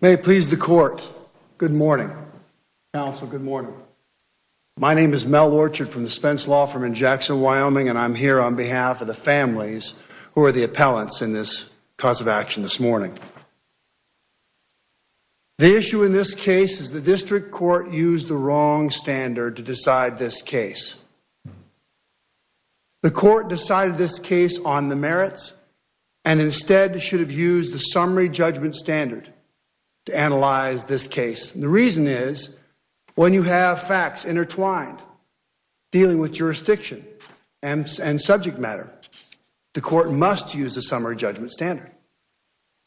May it please the court. Good morning, counsel. Good morning. My name is Mel Orchard from the Spence Law Firm in Jackson, Wyoming, and I'm here on behalf of the families who are the appellants in this cause of action this morning. The issue in this case is the district court used the wrong standard to decide this case. The court decided this case on the merits and instead should have used the summary judgment standard to analyze this case. The reason is when you have facts intertwined dealing with jurisdiction and subject matter, the court must use a summary judgment standard.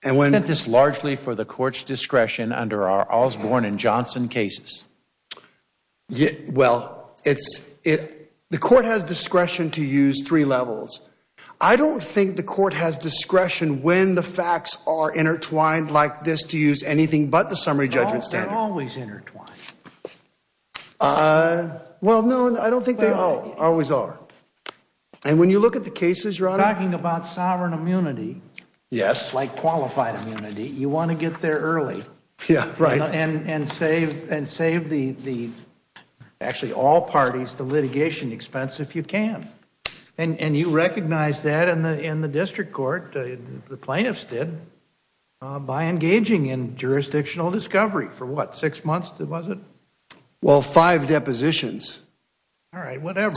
And when... Is this largely for the court's discretion under our Osborne and Johnson cases? Well, the court has discretion to use three levels. I don't think the court has discretion when the facts are intertwined like this to use anything but the summary judgment standard. They're always intertwined. Well, no, I don't think they always are. And when you look at the cases, Your Honor... Talking about sovereign immunity... Yes. Like qualified immunity, you want to get there early. Yeah, right. And save the, actually all parties, the litigation expense if you can. And you recognize that in the plaintiffs did by engaging in jurisdictional discovery for what, six months was it? Well, five depositions. All right, whatever.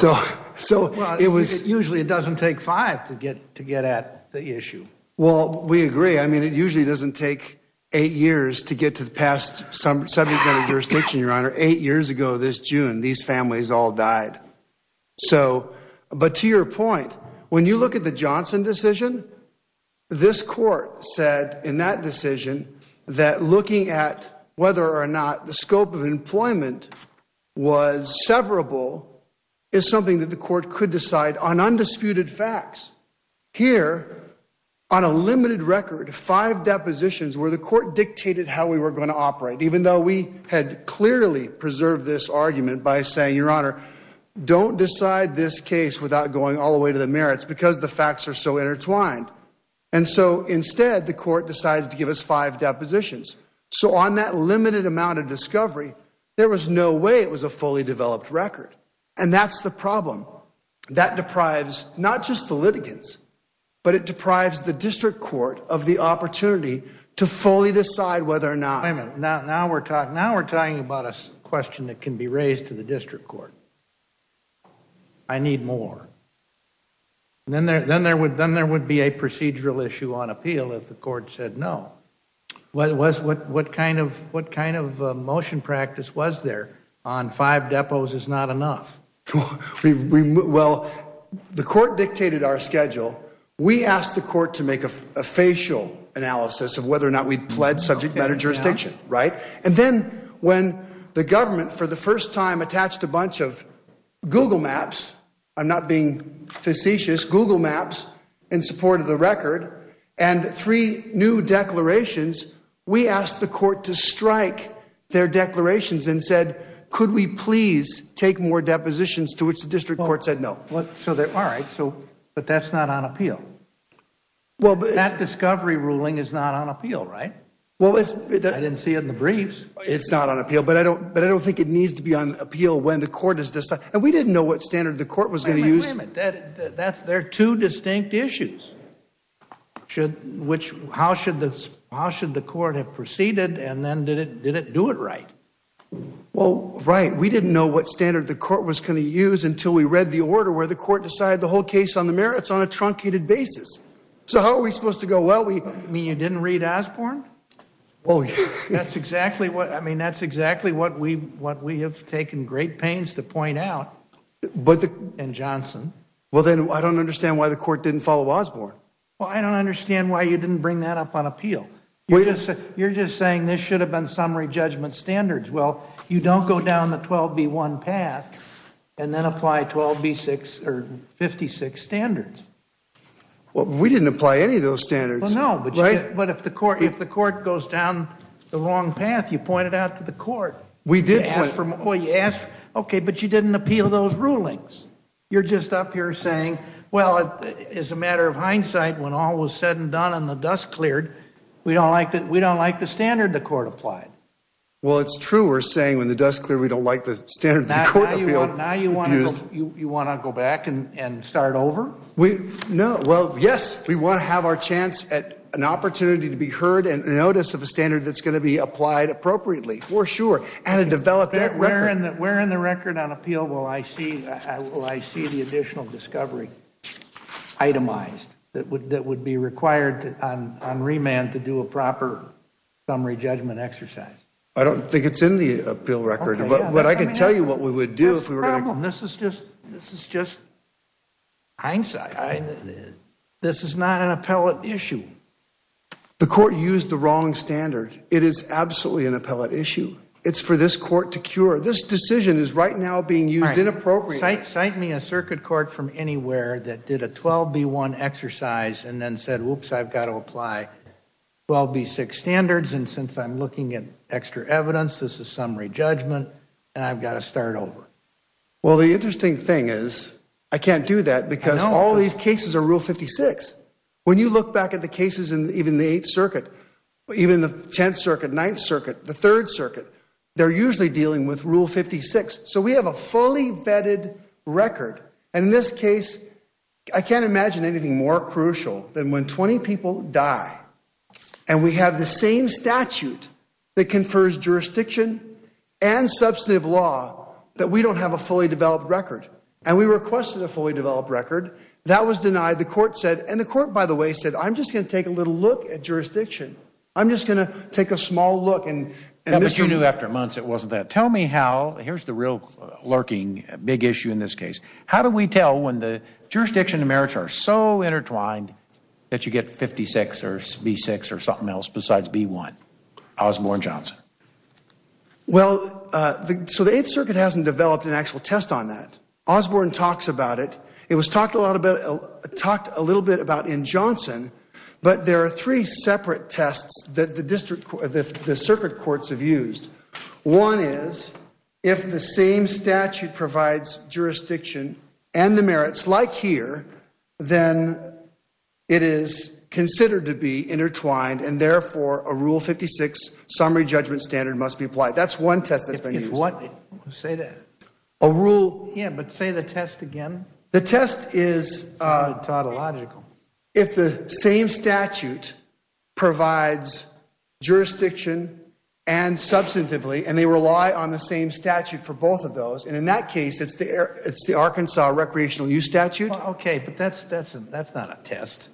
So it was... Usually it doesn't take five to get at the issue. Well, we agree. I mean, it usually doesn't take eight years to get to the past subject matter jurisdiction, Your Honor. Eight years ago this June, these families all died. So, but to your point, when you look at the Johnson decision, this court said in that decision that looking at whether or not the scope of employment was severable is something that the court could decide on undisputed facts. Here, on a limited record, five depositions where the court dictated how we were going to operate, even though we had clearly preserved this argument by saying, Your Honor, don't decide this case without going all the way to the merits because the facts are so intertwined. And so instead the court decides to give us five depositions. So on that limited amount of discovery, there was no way it was a fully developed record. And that's the problem. That deprives not just the litigants, but it deprives the district court of the opportunity to fully decide whether or not... I need more. Then there would be a procedural issue on appeal if the court said no. What kind of motion practice was there on five depots is not enough? Well, the court dictated our schedule. We asked the court to make a facial analysis of whether or not we pled subject matter jurisdiction, right? And then when the government for the first time attached a bunch of Google Maps, I'm not being facetious, Google Maps in support of the record, and three new declarations, we asked the court to strike their declarations and said, Could we please take more depositions, to which the district court said no. Well, all right, but that's not on appeal. That discovery ruling is not on appeal, right? I didn't see it in the briefs. It's not on appeal, but I don't think it needs to be on appeal when the court has decided. And we didn't know what standard the court was going to use. Wait a minute. There are two distinct issues. How should the court have proceeded, and then did it do it right? Well, right. We didn't know what standard the court was going to use until we read the order where the court decided the whole case on the merits on a truncated basis. So how are we supposed to go? Well, we... You mean you didn't read Osborne? Well, that's exactly what, I mean, that's exactly what we have taken great pains to point out in Johnson. Well, then I don't understand why the court didn't follow Osborne. Well, I don't understand why you didn't bring that up on appeal. You're just saying this should have been summary judgment standards. Well, you don't go down the 12B1 path and then apply 12B6 or 56 standards. Well, we didn't apply any of those standards. But if the court goes down the wrong path, you point it out to the court. Okay, but you didn't appeal those rulings. You're just up here saying, well, as a matter of hindsight, when all was said and done and the dust cleared, we don't like the standard the court applied. Well, it's true. We're saying when the dust cleared, we don't like the standard the court appealed. Now you want to go back and start over? No. Well, yes, we want to have our chance at an opportunity to be heard and notice of a standard that's going to be applied appropriately, for sure, and to develop that record. Where in the record on appeal will I see the additional discovery itemized that would be required on remand to do a proper summary judgment exercise? I don't think it's in the appeal record. But I could tell you what we would do if we were going to do that. This is just hindsight. This is not an appellate issue. The court used the wrong standard. It is absolutely an appellate issue. It's for this court to cure. This decision is right now being used inappropriately. Cite me a circuit court from anywhere that did a 12B1 exercise and then said, whoops, I've got to apply 12B6 standards, and since I'm looking at extra evidence, this is summary judgment, and I've got to start over. Well, the interesting thing is I can't do that because all these cases are Rule 56. When you look back at the cases in even the 8th Circuit, even the 10th Circuit, 9th Circuit, the 3rd Circuit, they're usually dealing with Rule 56. So we have a fully vetted record. And in this case, I can't imagine anything more crucial than when 20 people die and we have the same statute that confers jurisdiction and substantive law that we don't have a fully developed record. And we requested a fully developed record. That was denied. The court said, and the court, by the way, said, I'm just going to take a little look at jurisdiction. I'm just going to take a small look. Well, but you knew after months it wasn't that. Tell me how, here's the real lurking big issue in this case. How do we tell when the jurisdiction and merits are so intertwined that you get 56 or B6 or something else besides B1? Osborne, Johnson. Well, so the 8th Circuit hasn't developed an actual test on that. Osborne talks about it. It was talked a little bit about in Johnson. But there are three separate tests that the circuit courts have used. One is if the same statute provides jurisdiction and the merits like here, then it is considered to be intertwined. And therefore, a Rule 56 summary judgment standard must be applied. That's one test that's been used. If what? Say that. A rule. Yeah, but say the test again. The test is. It sounded tautological. If the same statute provides jurisdiction and substantively, and they rely on the same Okay, but that's not a test.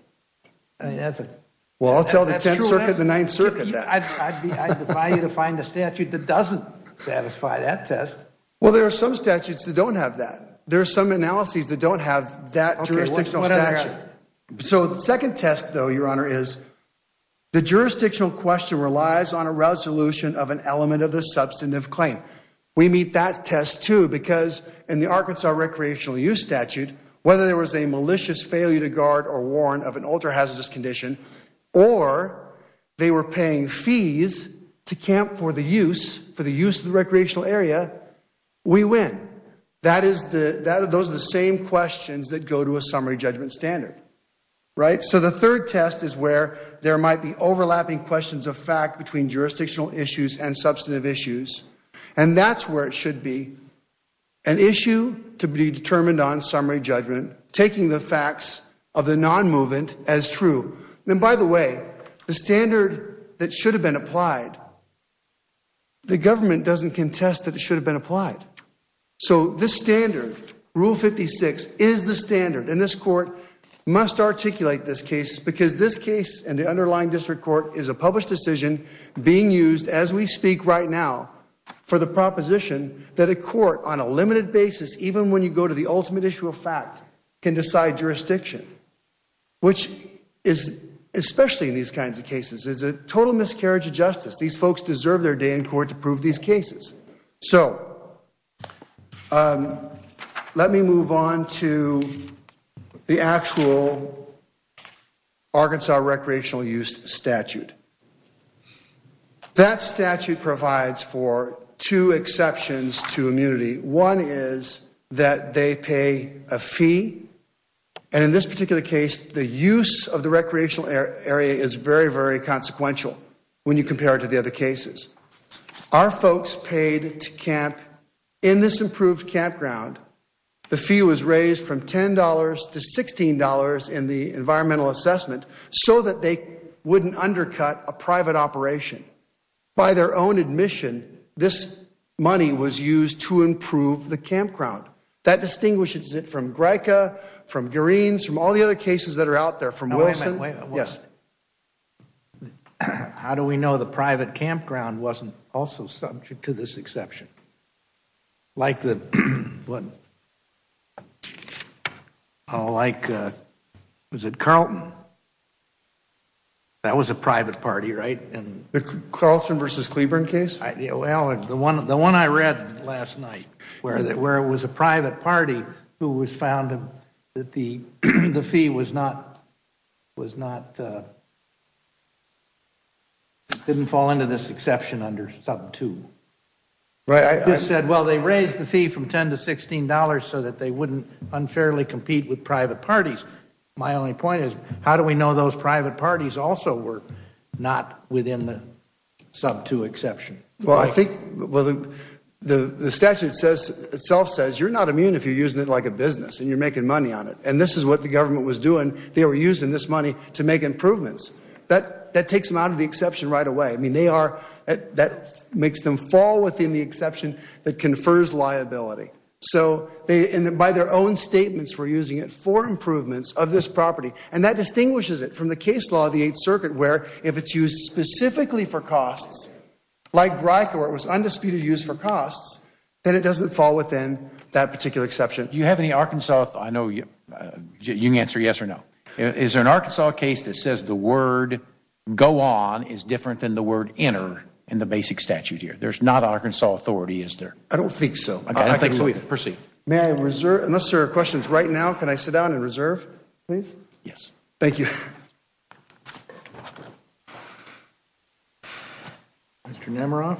Well, I'll tell the 9th Circuit that. I'd advise you to find a statute that doesn't satisfy that test. Well, there are some statutes that don't have that. There are some analyses that don't have that jurisdictional statute. So the second test, though, Your Honor, is the jurisdictional question relies on a resolution of an element of the substantive claim. We meet that test, because in the Arkansas recreational use statute, whether there was a malicious failure to guard or warn of an ultra hazardous condition or they were paying fees to camp for the use for the use of the recreational area, we win. That is the those are the same questions that go to a summary judgment standard. Right. So the third test is where there might be overlapping questions of fact between issues and substantive issues. And that's where it should be an issue to be determined on summary judgment, taking the facts of the non movement as true. And by the way, the standard that should have been applied. The government doesn't contest that it should have been applied. So this standard rule 56 is the standard in this court must articulate this case because this case and the underlying district court is a published decision being used as we speak right now for the proposition that a court on a limited basis, even when you go to the ultimate issue of fact, can decide jurisdiction, which is especially in these kinds of cases is a total miscarriage of justice. These folks deserve their day in court to prove these cases. So let me move on to the actual Arkansas recreational use statute. That statute provides for two exceptions to immunity. One is that they pay a fee. And in this particular case, the use of the recreational area is very, very consequential when you compare it to the other cases. Our folks paid to camp in this improved campground. The fee was raised from $10 to $16 in the environmental assessment so that they wouldn't undercut a private operation by their own admission. This money was used to improve the campground that distinguishes it from Greika, from Green's, from all the other cases that are out there from Wilson. Yes. How do we know the private campground wasn't also subject to this exception? Like the, like, was it Carlton? That was a private party, right? The Carlton versus Cleburne case? Well, the one I read last night, where it was a private party who was found that the fee was not, was not, didn't fall into this exception under sub two. Right. I just said, well, they raised the fee from $10 to $16 so that they wouldn't unfairly compete with private parties. My only point is, how do we know those private parties also were not within the sub two exception? Well, I think, well, the statute says, itself says you're not immune if you're using it like a business and you're making money on it. And this is what the government was doing. They were using this money to make improvements. That, that takes them out of the exception right away. I mean, they are, that makes them fall within the exception that confers liability. So they, and by their own statements, were using it for improvements of this property. And that distinguishes it from the case law of the Eighth Circuit, where if it's used specifically for costs, like Greika, where it was undisputed use for costs, then it doesn't fall within that particular exception. Do you have any Arkansas, I know you, you can answer yes or no. Is there an Arkansas case that says the word go on is different than the word enter in the basic statute here? There's not Arkansas authority, is there? I don't think so. Okay, I think we can proceed. May I reserve, unless there are questions right now, can I sit down and reserve, please? Yes. Thank you. Mr. Namaroff.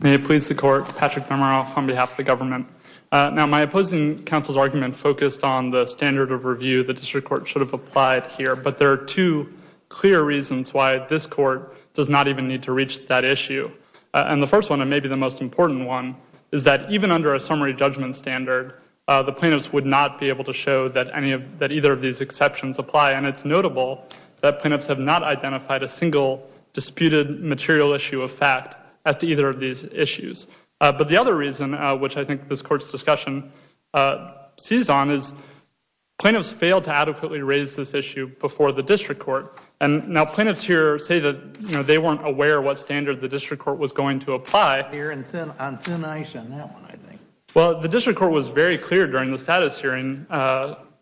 May it please the Court. Patrick Namaroff on behalf of the government. Now, my opposing counsel's argument focused on the standard of review the district court should have applied here. But there are two clear reasons why this court does not even need to reach that issue. And the first one, and maybe the most important one, is that even under a summary judgment standard, the plaintiffs would not be able to show that any of, that either of these exceptions apply. And it's notable that plaintiffs have not identified a single disputed material of fact as to either of these issues. But the other reason, which I think this court's discussion seized on, is plaintiffs failed to adequately raise this issue before the district court. And now plaintiffs here say that, you know, they weren't aware what standard the district court was going to apply. Well, the district court was very clear during the status hearing.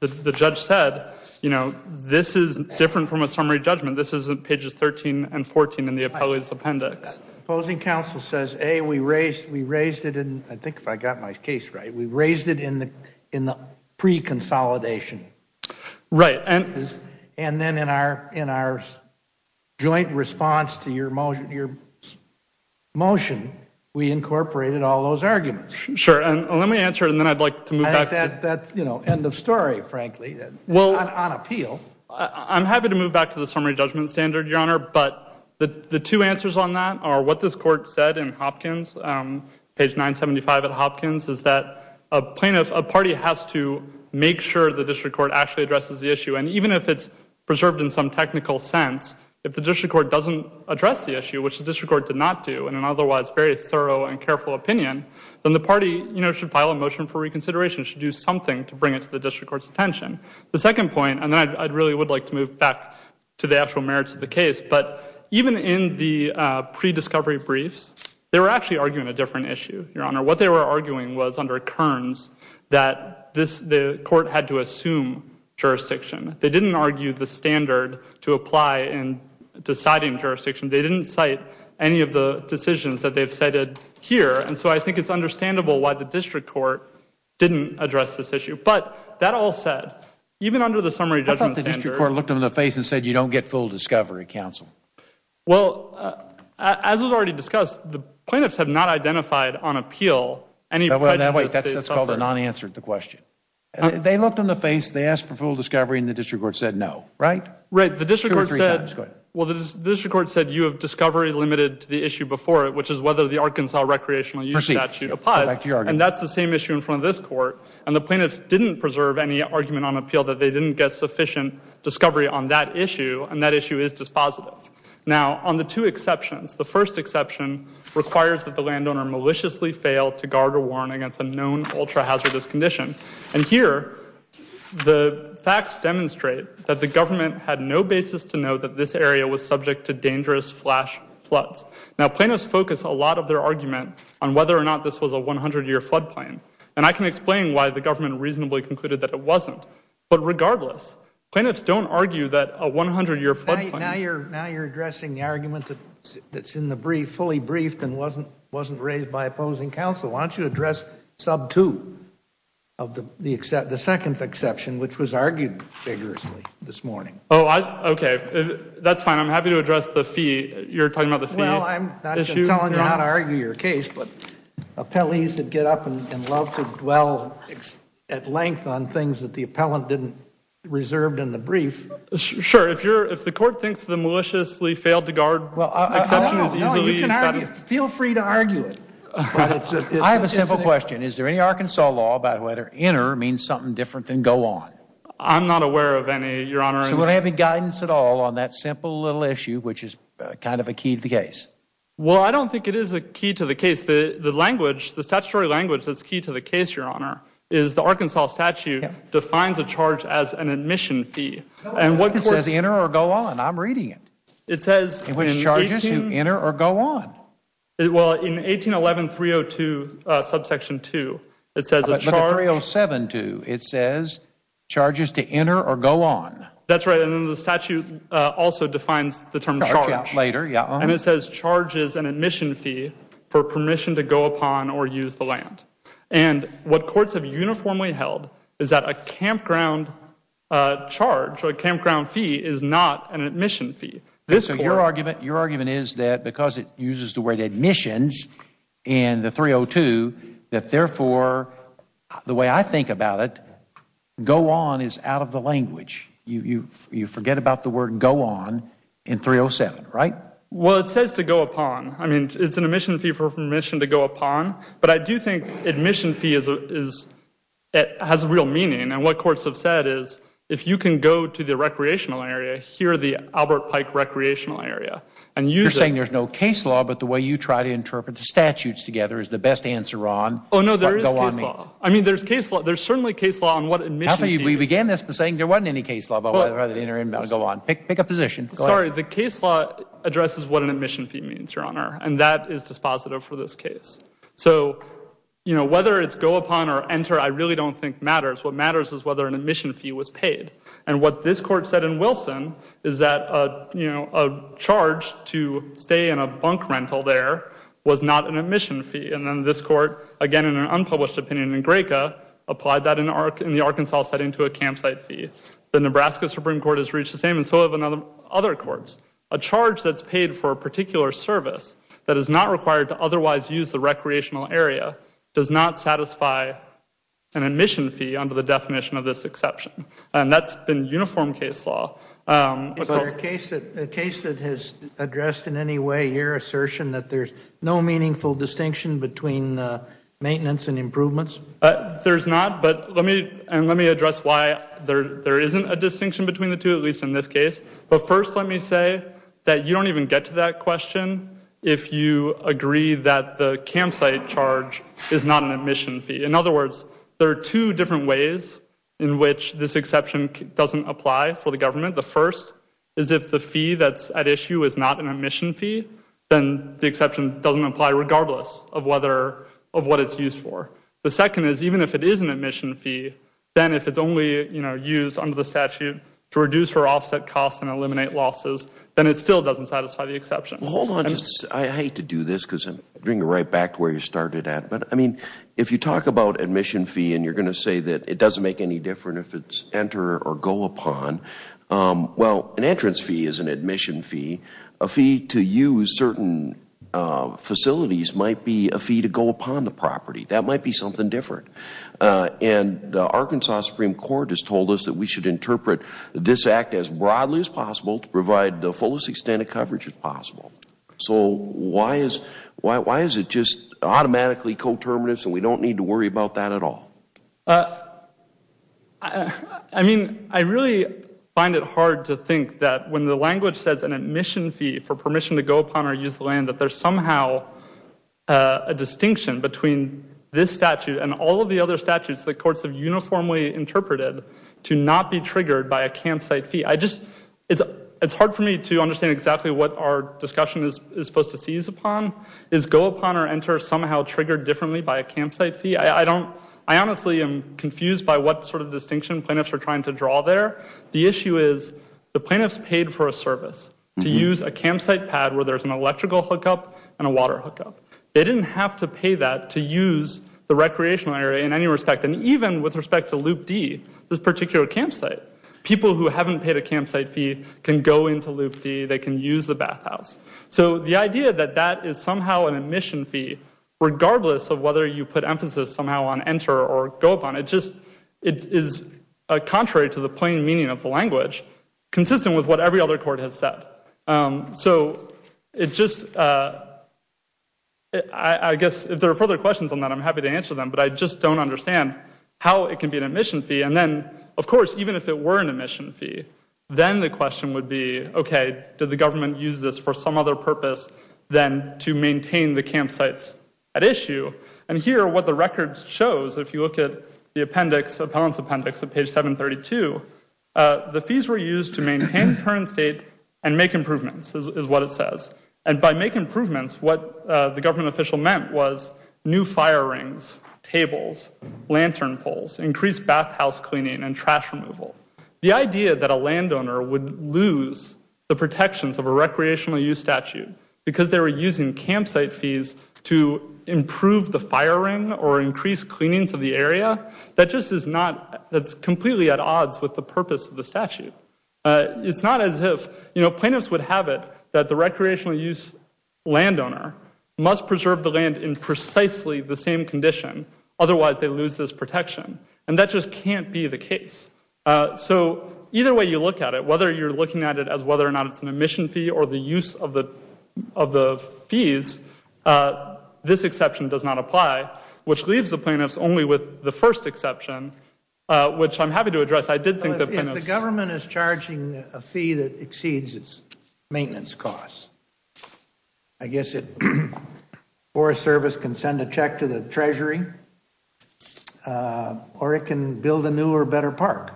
The judge said, you know, this is different from a summary judgment. This is pages 13 and 14 in the appendix. Opposing counsel says, A, we raised, we raised it in, I think if I got my case right, we raised it in the, in the pre-consolidation. Right. And, and then in our, in our joint response to your motion, your motion, we incorporated all those arguments. Sure. And let me answer it and then I'd like to move back. That, that's, you know, end of story, frankly. Well. On appeal. I'm happy to move back to the summary judgment standard, Your Honor. But the, the two answers on that are what this court said in Hopkins, page 975 at Hopkins, is that a plaintiff, a party has to make sure the district court actually addresses the issue. And even if it's preserved in some technical sense, if the district court doesn't address the issue, which the district court did not do, in an otherwise very thorough and careful opinion, then the party, you know, should file a motion for reconsideration, should do something to bring it to the district court's attention. The second point, and then I'd really would like to move back to the actual merits of the case, but even in the pre-discovery briefs, they were actually arguing a different issue, Your Honor. What they were arguing was under Kearns that this, the court had to assume jurisdiction. They didn't argue the standard to apply in deciding jurisdiction. They didn't cite any of the decisions that they've cited here. And so I think it's understandable why the district court didn't address this issue. But that all said, even under the summary judgment standard. The district court looked them in the face and said, you don't get full discovery, counsel. Well, as was already discussed, the plaintiffs have not identified on appeal any prejudice they suffered. That's called a non-answer to the question. They looked them in the face, they asked for full discovery, and the district court said no, right? Right. The district court said, well, the district court said you have discovery limited to the issue before it, which is whether the Arkansas recreational use statute applies. And that's the same issue in front of this court. And the plaintiffs didn't preserve any argument on appeal that they didn't get sufficient discovery on that issue, and that issue is dispositive. Now, on the two exceptions, the first exception requires that the landowner maliciously fail to guard or warn against a known ultra-hazardous condition. And here, the facts demonstrate that the government had no basis to know that this area was subject to dangerous flash floods. Now, plaintiffs focus a lot of their argument on whether or not this was a 100-year floodplain. And I can explain why the government reasonably concluded that it wasn't. But regardless, plaintiffs don't argue that a 100-year floodplain Now you're addressing the argument that's in the brief, fully briefed and wasn't raised by opposing counsel. Why don't you address sub 2 of the second exception, which was argued vigorously this morning. Oh, okay. That's fine. I'm happy to address the fee. You're talking about the fee issue? Well, I'm not going to tell you how to argue your case, but at length on things that the appellant didn't reserve in the brief. Sure. If you're, if the court thinks the maliciously failed to guard feel free to argue it. I have a simple question. Is there any Arkansas law about whether inner means something different than go on? I'm not aware of any, Your Honor. So we'll have any guidance at all on that simple little issue, which is kind of a key to the case. Well, I don't think it is a key to the case. The language, the statutory language that's key to the case, Your Honor, is the Arkansas statute defines a charge as an admission fee. And what it says, enter or go on. I'm reading it. It says, which charges you enter or go on. Well, in 1811 302 subsection two, it says, 307 to it says charges to enter or go on. That's right. And then the statute also defines the term charge later. Yeah. And it says charges an admission fee for permission to go upon or use the land. And what courts have uniformly held is that a campground charge or a campground fee is not an admission fee. This is your argument. Your argument is that because it uses the word admissions in the 302, that therefore the way I think about it, go on is out of the language. You forget about the word go on in 307, right? Well, it says to go upon. I mean, it's an admission fee for permission to go upon. But I do think admission fee has real meaning. And what courts have said is if you can go to the recreational area, here are the Albert Pike recreational area. You're saying there's no case law, but the way you try to interpret the statutes together is the best answer on what go on means. Oh, no, there is case law. I mean, there's certainly case law on what admission fee is. We began this by saying there wasn't any case law. Pick a position. Sorry. The case law addresses what an admission fee means, Your Honor. And that is dispositive for this case. So whether it's go upon or enter, I really don't think matters. What matters is whether an admission fee was paid. And what this court said in Wilson is that a charge to stay in a bunk rental there was not an admission fee. And then this court, again, in an unpublished opinion in Graca, applied that in the Arkansas setting to a campsite fee. The Nebraska Supreme Court has reached the same and so have other courts. A charge that's paid for a particular service that is not required to otherwise use the recreational area does not satisfy an admission fee under the definition of this exception. And that's been uniform case law. Is there a case that has addressed in any way your assertion that there's no meaningful distinction between maintenance and improvements? There's not. And let me address why there isn't a distinction between the two, at least in this case. But first let me say that you don't even get to that question if you agree that the campsite charge is not an admission fee. In other words, there are two different ways in which this exception doesn't apply for the government. The first is if the fee that's at issue is not an admission fee, then the exception doesn't apply regardless of what it's used for. The second is even if it is an admission fee, then if it's only used under the statute to reduce or offset costs and eliminate losses, then it still doesn't satisfy the exception. Hold on. I hate to do this because I'm going right back to where you started at. But I mean, if you talk about admission fee and you're going to say that it doesn't make any difference if it's enter or go upon, well, an entrance fee is an admission fee. A fee to use certain facilities might be a fee to go upon the property. That might be something different. And the Arkansas Supreme Court has told us that we should interpret this act as broadly as possible to provide the fullest extent of coverage as possible. So why is it just automatically coterminous and we don't need to worry about that at all? I mean, I really find it hard to think that when the language says an admission fee for permission to go upon or use the land, that there's somehow a distinction between this statute and all of the other statutes that courts have uniformly interpreted to not be triggered by a campsite fee. It's hard for me to understand exactly what our discussion is supposed to seize I honestly am confused by what sort of distinction plaintiffs are trying to draw there. The issue is the plaintiffs paid for a service to use a campsite pad where there's an electrical hookup and a water hookup. They didn't have to pay that to use the recreational area in any respect. And even with respect to Loop D, this particular campsite, people who haven't paid a campsite fee can go into Loop D. They can use the bathhouse. So the idea that that is somehow an enter or go upon, it just is contrary to the plain meaning of the language, consistent with what every other court has said. So it just, I guess if there are further questions on that, I'm happy to answer them, but I just don't understand how it can be an admission fee. And then, of course, even if it were an admission fee, then the question would be, okay, did the government use this for some other purpose than to maintain the campsites at issue? And here, what the record shows, if you look at the appendix, appellant's appendix at page 732, the fees were used to maintain the current state and make improvements is what it says. And by make improvements, what the government official meant was new fire rings, tables, lantern poles, increased bathhouse cleaning and trash removal. The idea that a landowner would lose the protections of a recreational use statute because they were using campsite fees to improve the fire ring or increase cleanings of the area, that just is not, that's completely at odds with the purpose of the statute. It's not as if, you know, plaintiffs would have it that the recreational use landowner must preserve the land in precisely the same condition, otherwise they lose this protection. And that just can't be the case. So either way you look at it, whether you're looking at it as whether or not it's an admission fee or the use of the fees, this exception does not apply, which leaves the plaintiffs only with the first exception, which I'm happy to address. I did think that the government is charging a fee that exceeds its maintenance costs. I guess it, Forest Service can send a check to the treasury or it can build a new or better park.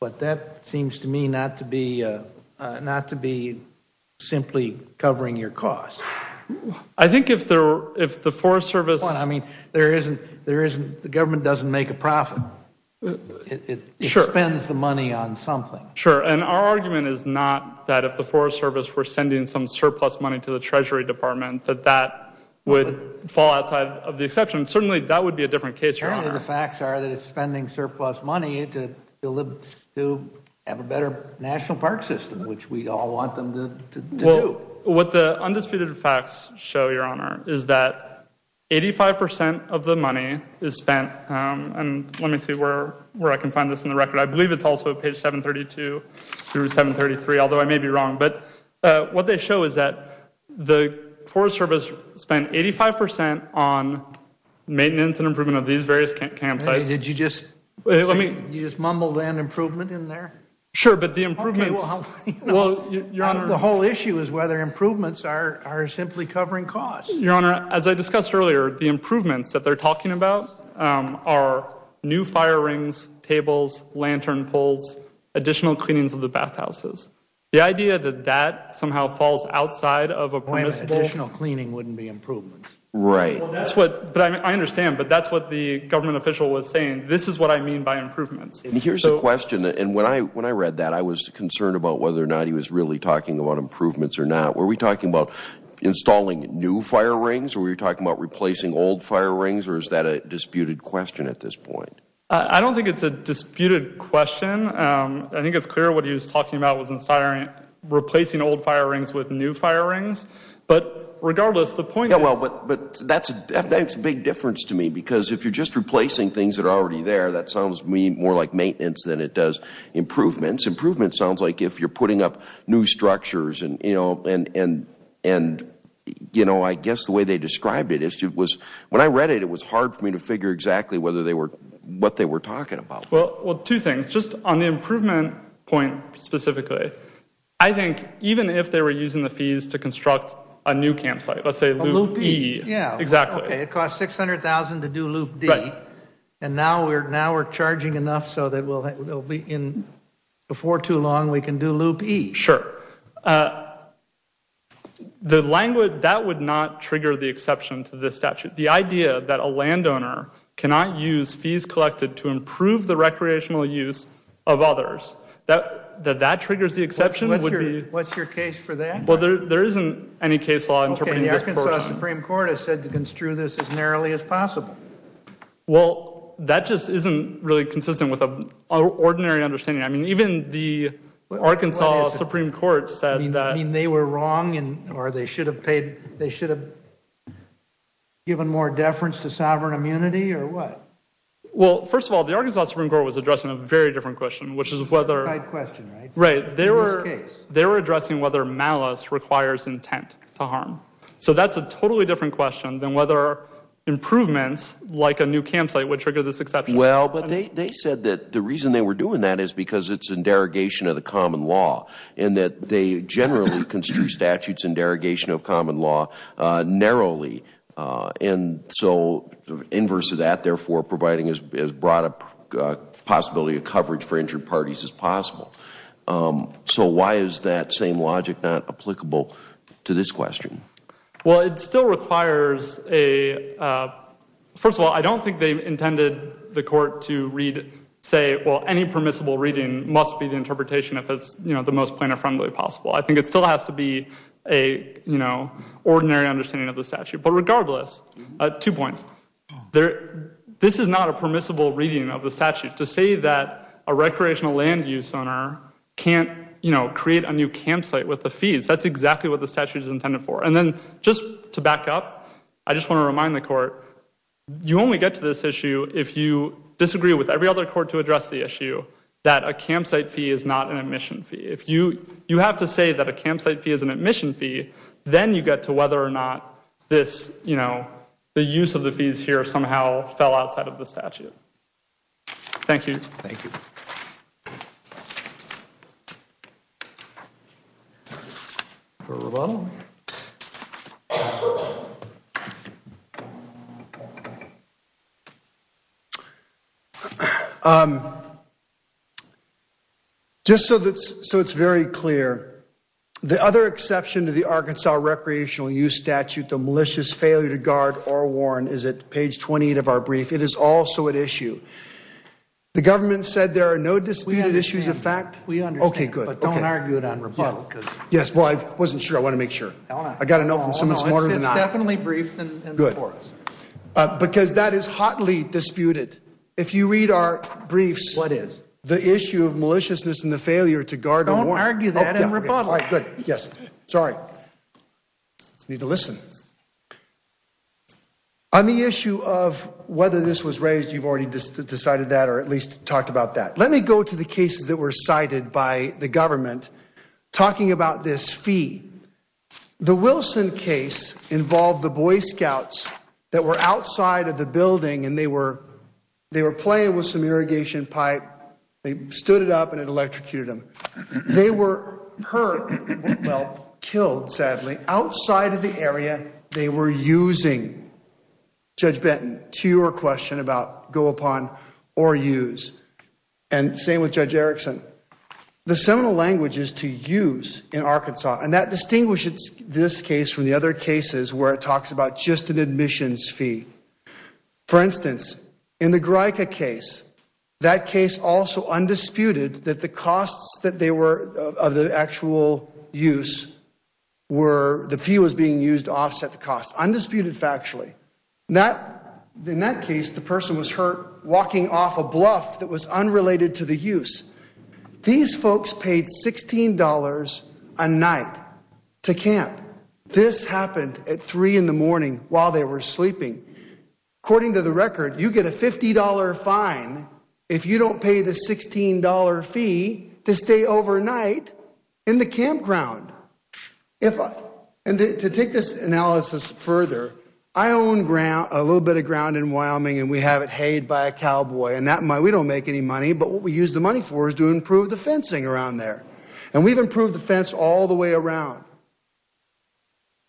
But that seems to me not to be, not to be simply covering your costs. I think if the, if the Forest Service I mean, there isn't, there isn't, the government doesn't make a profit. It spends the money on something. Sure. And our argument is not that if the Forest Service were sending some surplus money to the Treasury Department that that would fall outside of the exception. Certainly that would be a different case, Your Honor. The facts are that it's spending surplus money to have a better National Park System, which we all want them to do. What the undisputed facts show, Your Honor, is that 85% of the money is spent, and let me see where I can find this in the record. I believe it's also page 732 through 733, although I may be wrong. But what they show is that the Forest Service spent 85% on maintenance and improvement of these various campsites. Did you just, you just mumbled an improvement in there? Sure, but the improvements, well, Your Honor. The whole issue is whether improvements are simply covering costs. Your Honor, as I discussed earlier, the improvements that they're talking about are new fire rings, tables, lantern poles, additional cleanings of the bathhouses. The idea that that somehow falls outside of a permissible Additional cleaning wouldn't be improvements. Right. I understand, but that's what the government official was saying. This is what I mean by improvements. Here's a question, and when I read that, I was concerned about whether or not he was really talking about improvements or not. Were we talking about installing new fire rings, or were we talking about replacing old fire rings, or is that a disputed question at this point? I don't think it's a disputed question. I think it's clear what he was talking about was replacing old fire rings with new fire rings. But regardless, the point is that's a big difference to me, because if you're just replacing things that are already there, that sounds to me more like maintenance than it does improvements. Improvements sounds like if you're putting up new structures, and I guess the way they described it is when I read it, it was hard for me to figure exactly what they were talking about. Well, two things. Just on the improvement point specifically, I think even if they were using the loop E, it costs $600,000 to do loop D, and now we're charging enough so that before too long we can do loop E. Sure. That would not trigger the exception to this statute. The idea that a landowner cannot use fees collected to improve the recreational use of others, that that triggers the exception. What's your case for that? Well, there isn't any case law interpreting this. The Arkansas Supreme Court has said to construe this as narrowly as possible. Well, that just isn't really consistent with an ordinary understanding. I mean, even the Arkansas Supreme Court said that. I mean, they were wrong, or they should have paid, they should have given more deference to sovereign immunity, or what? Well, first of all, the Arkansas Supreme Court was addressing a very different question, which is whether. Right. They were addressing whether malice requires intent to harm. So that's a totally different question than whether improvements like a new campsite would trigger this exception. Well, but they said that the reason they were doing that is because it's in derogation of the common law, and that they generally construe statutes in derogation of common law narrowly, and so inverse of that therefore providing as broad a possibility of coverage for injured parties as possible. So why is that same logic not applicable to this question? Well, it still requires a, first of all, I don't think they intended the court to read, say, well, any permissible reading must be the interpretation if it's, you know, the most planar-friendly possible. I think it still has to be a, you know, ordinary understanding of the statute. But regardless, two points. This is not a permissible reading of the statute. To say that a recreational land use owner can't, you know, create a new campsite fee is not an admission fee. If you, you have to say that a campsite fee is an admission fee, then you get to whether or not this, you know, the use of the fees here somehow fell outside of the statute. Thank you. Thank you. Just so it's very clear, the other exception to the Arkansas recreational use statute, the malicious failure to guard or warn, is at page 28 of our brief. It is also at issue. The government said there are no disputed issues of fact. We understand. Okay, good. But don't argue it on rebuttal. Yes, well, I wasn't sure. I want to make sure. I got to know from someone smarter than I. It's definitely briefed in the courts. Good. Because that is hotly disputed. If you read our briefs. What is? The issue of maliciousness and the failure to guard. Don't listen. On the issue of whether this was raised, you've already decided that or at least talked about that. Let me go to the cases that were cited by the government talking about this fee. The Wilson case involved the Boy Scouts that were outside of the building and they were playing with some irrigation pipe. They stood it up and it electrocuted them. They were hurt, well, killed, sadly, outside of the area they were using. Judge Benton, to your question about go upon or use. And same with Judge Erickson. The seminal language is to use in Arkansas. And that distinguishes this case from the other cases where it talks about just an admissions fee. For instance, in the Greika case, that case also undisputed that the costs that they were of the actual use were the fee was being used to offset the cost. Undisputed factually. In that case, the person was hurt walking off a bluff that was unrelated to the use. These folks paid $16 a night to camp. This happened at three in the morning while they were sleeping. According to the record, you get a $50 fine if you don't pay the $16 fee to stay overnight in the campground. And to take this analysis further, I own a little bit of ground in Wyoming and we have it hayed by a cowboy. We don't make any money, but what we use the money for is to improve the fencing around there. And we've improved the fence all the way around.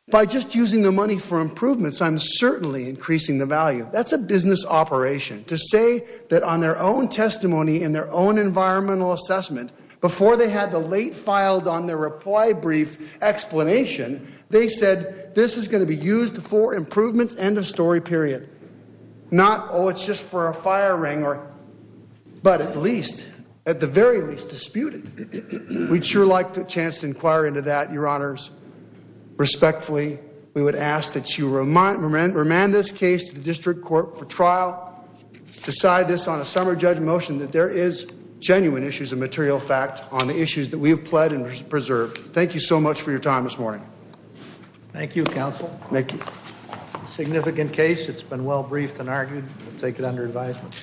By just using the money for improvements, I'm certainly increasing the value. That's a business operation. To say that on their own testimony and their own environmental assessment, before they had the late filed on their reply brief explanation, they said this is going to be used for improvements, end of story, period. Not, oh, it's just for a fire ring, but at least, at the very least, disputed. We'd sure like the chance to inquire into that, your honors. Respectfully, we would ask that you remand this case to the district court for trial. Decide this on a summer judge motion that there is genuine issues of material fact on the issues that we have pled and preserved. Thank you so much for your time this morning. Thank you, counsel. Significant case. It's been well briefed and argued. We'll take it under advisement.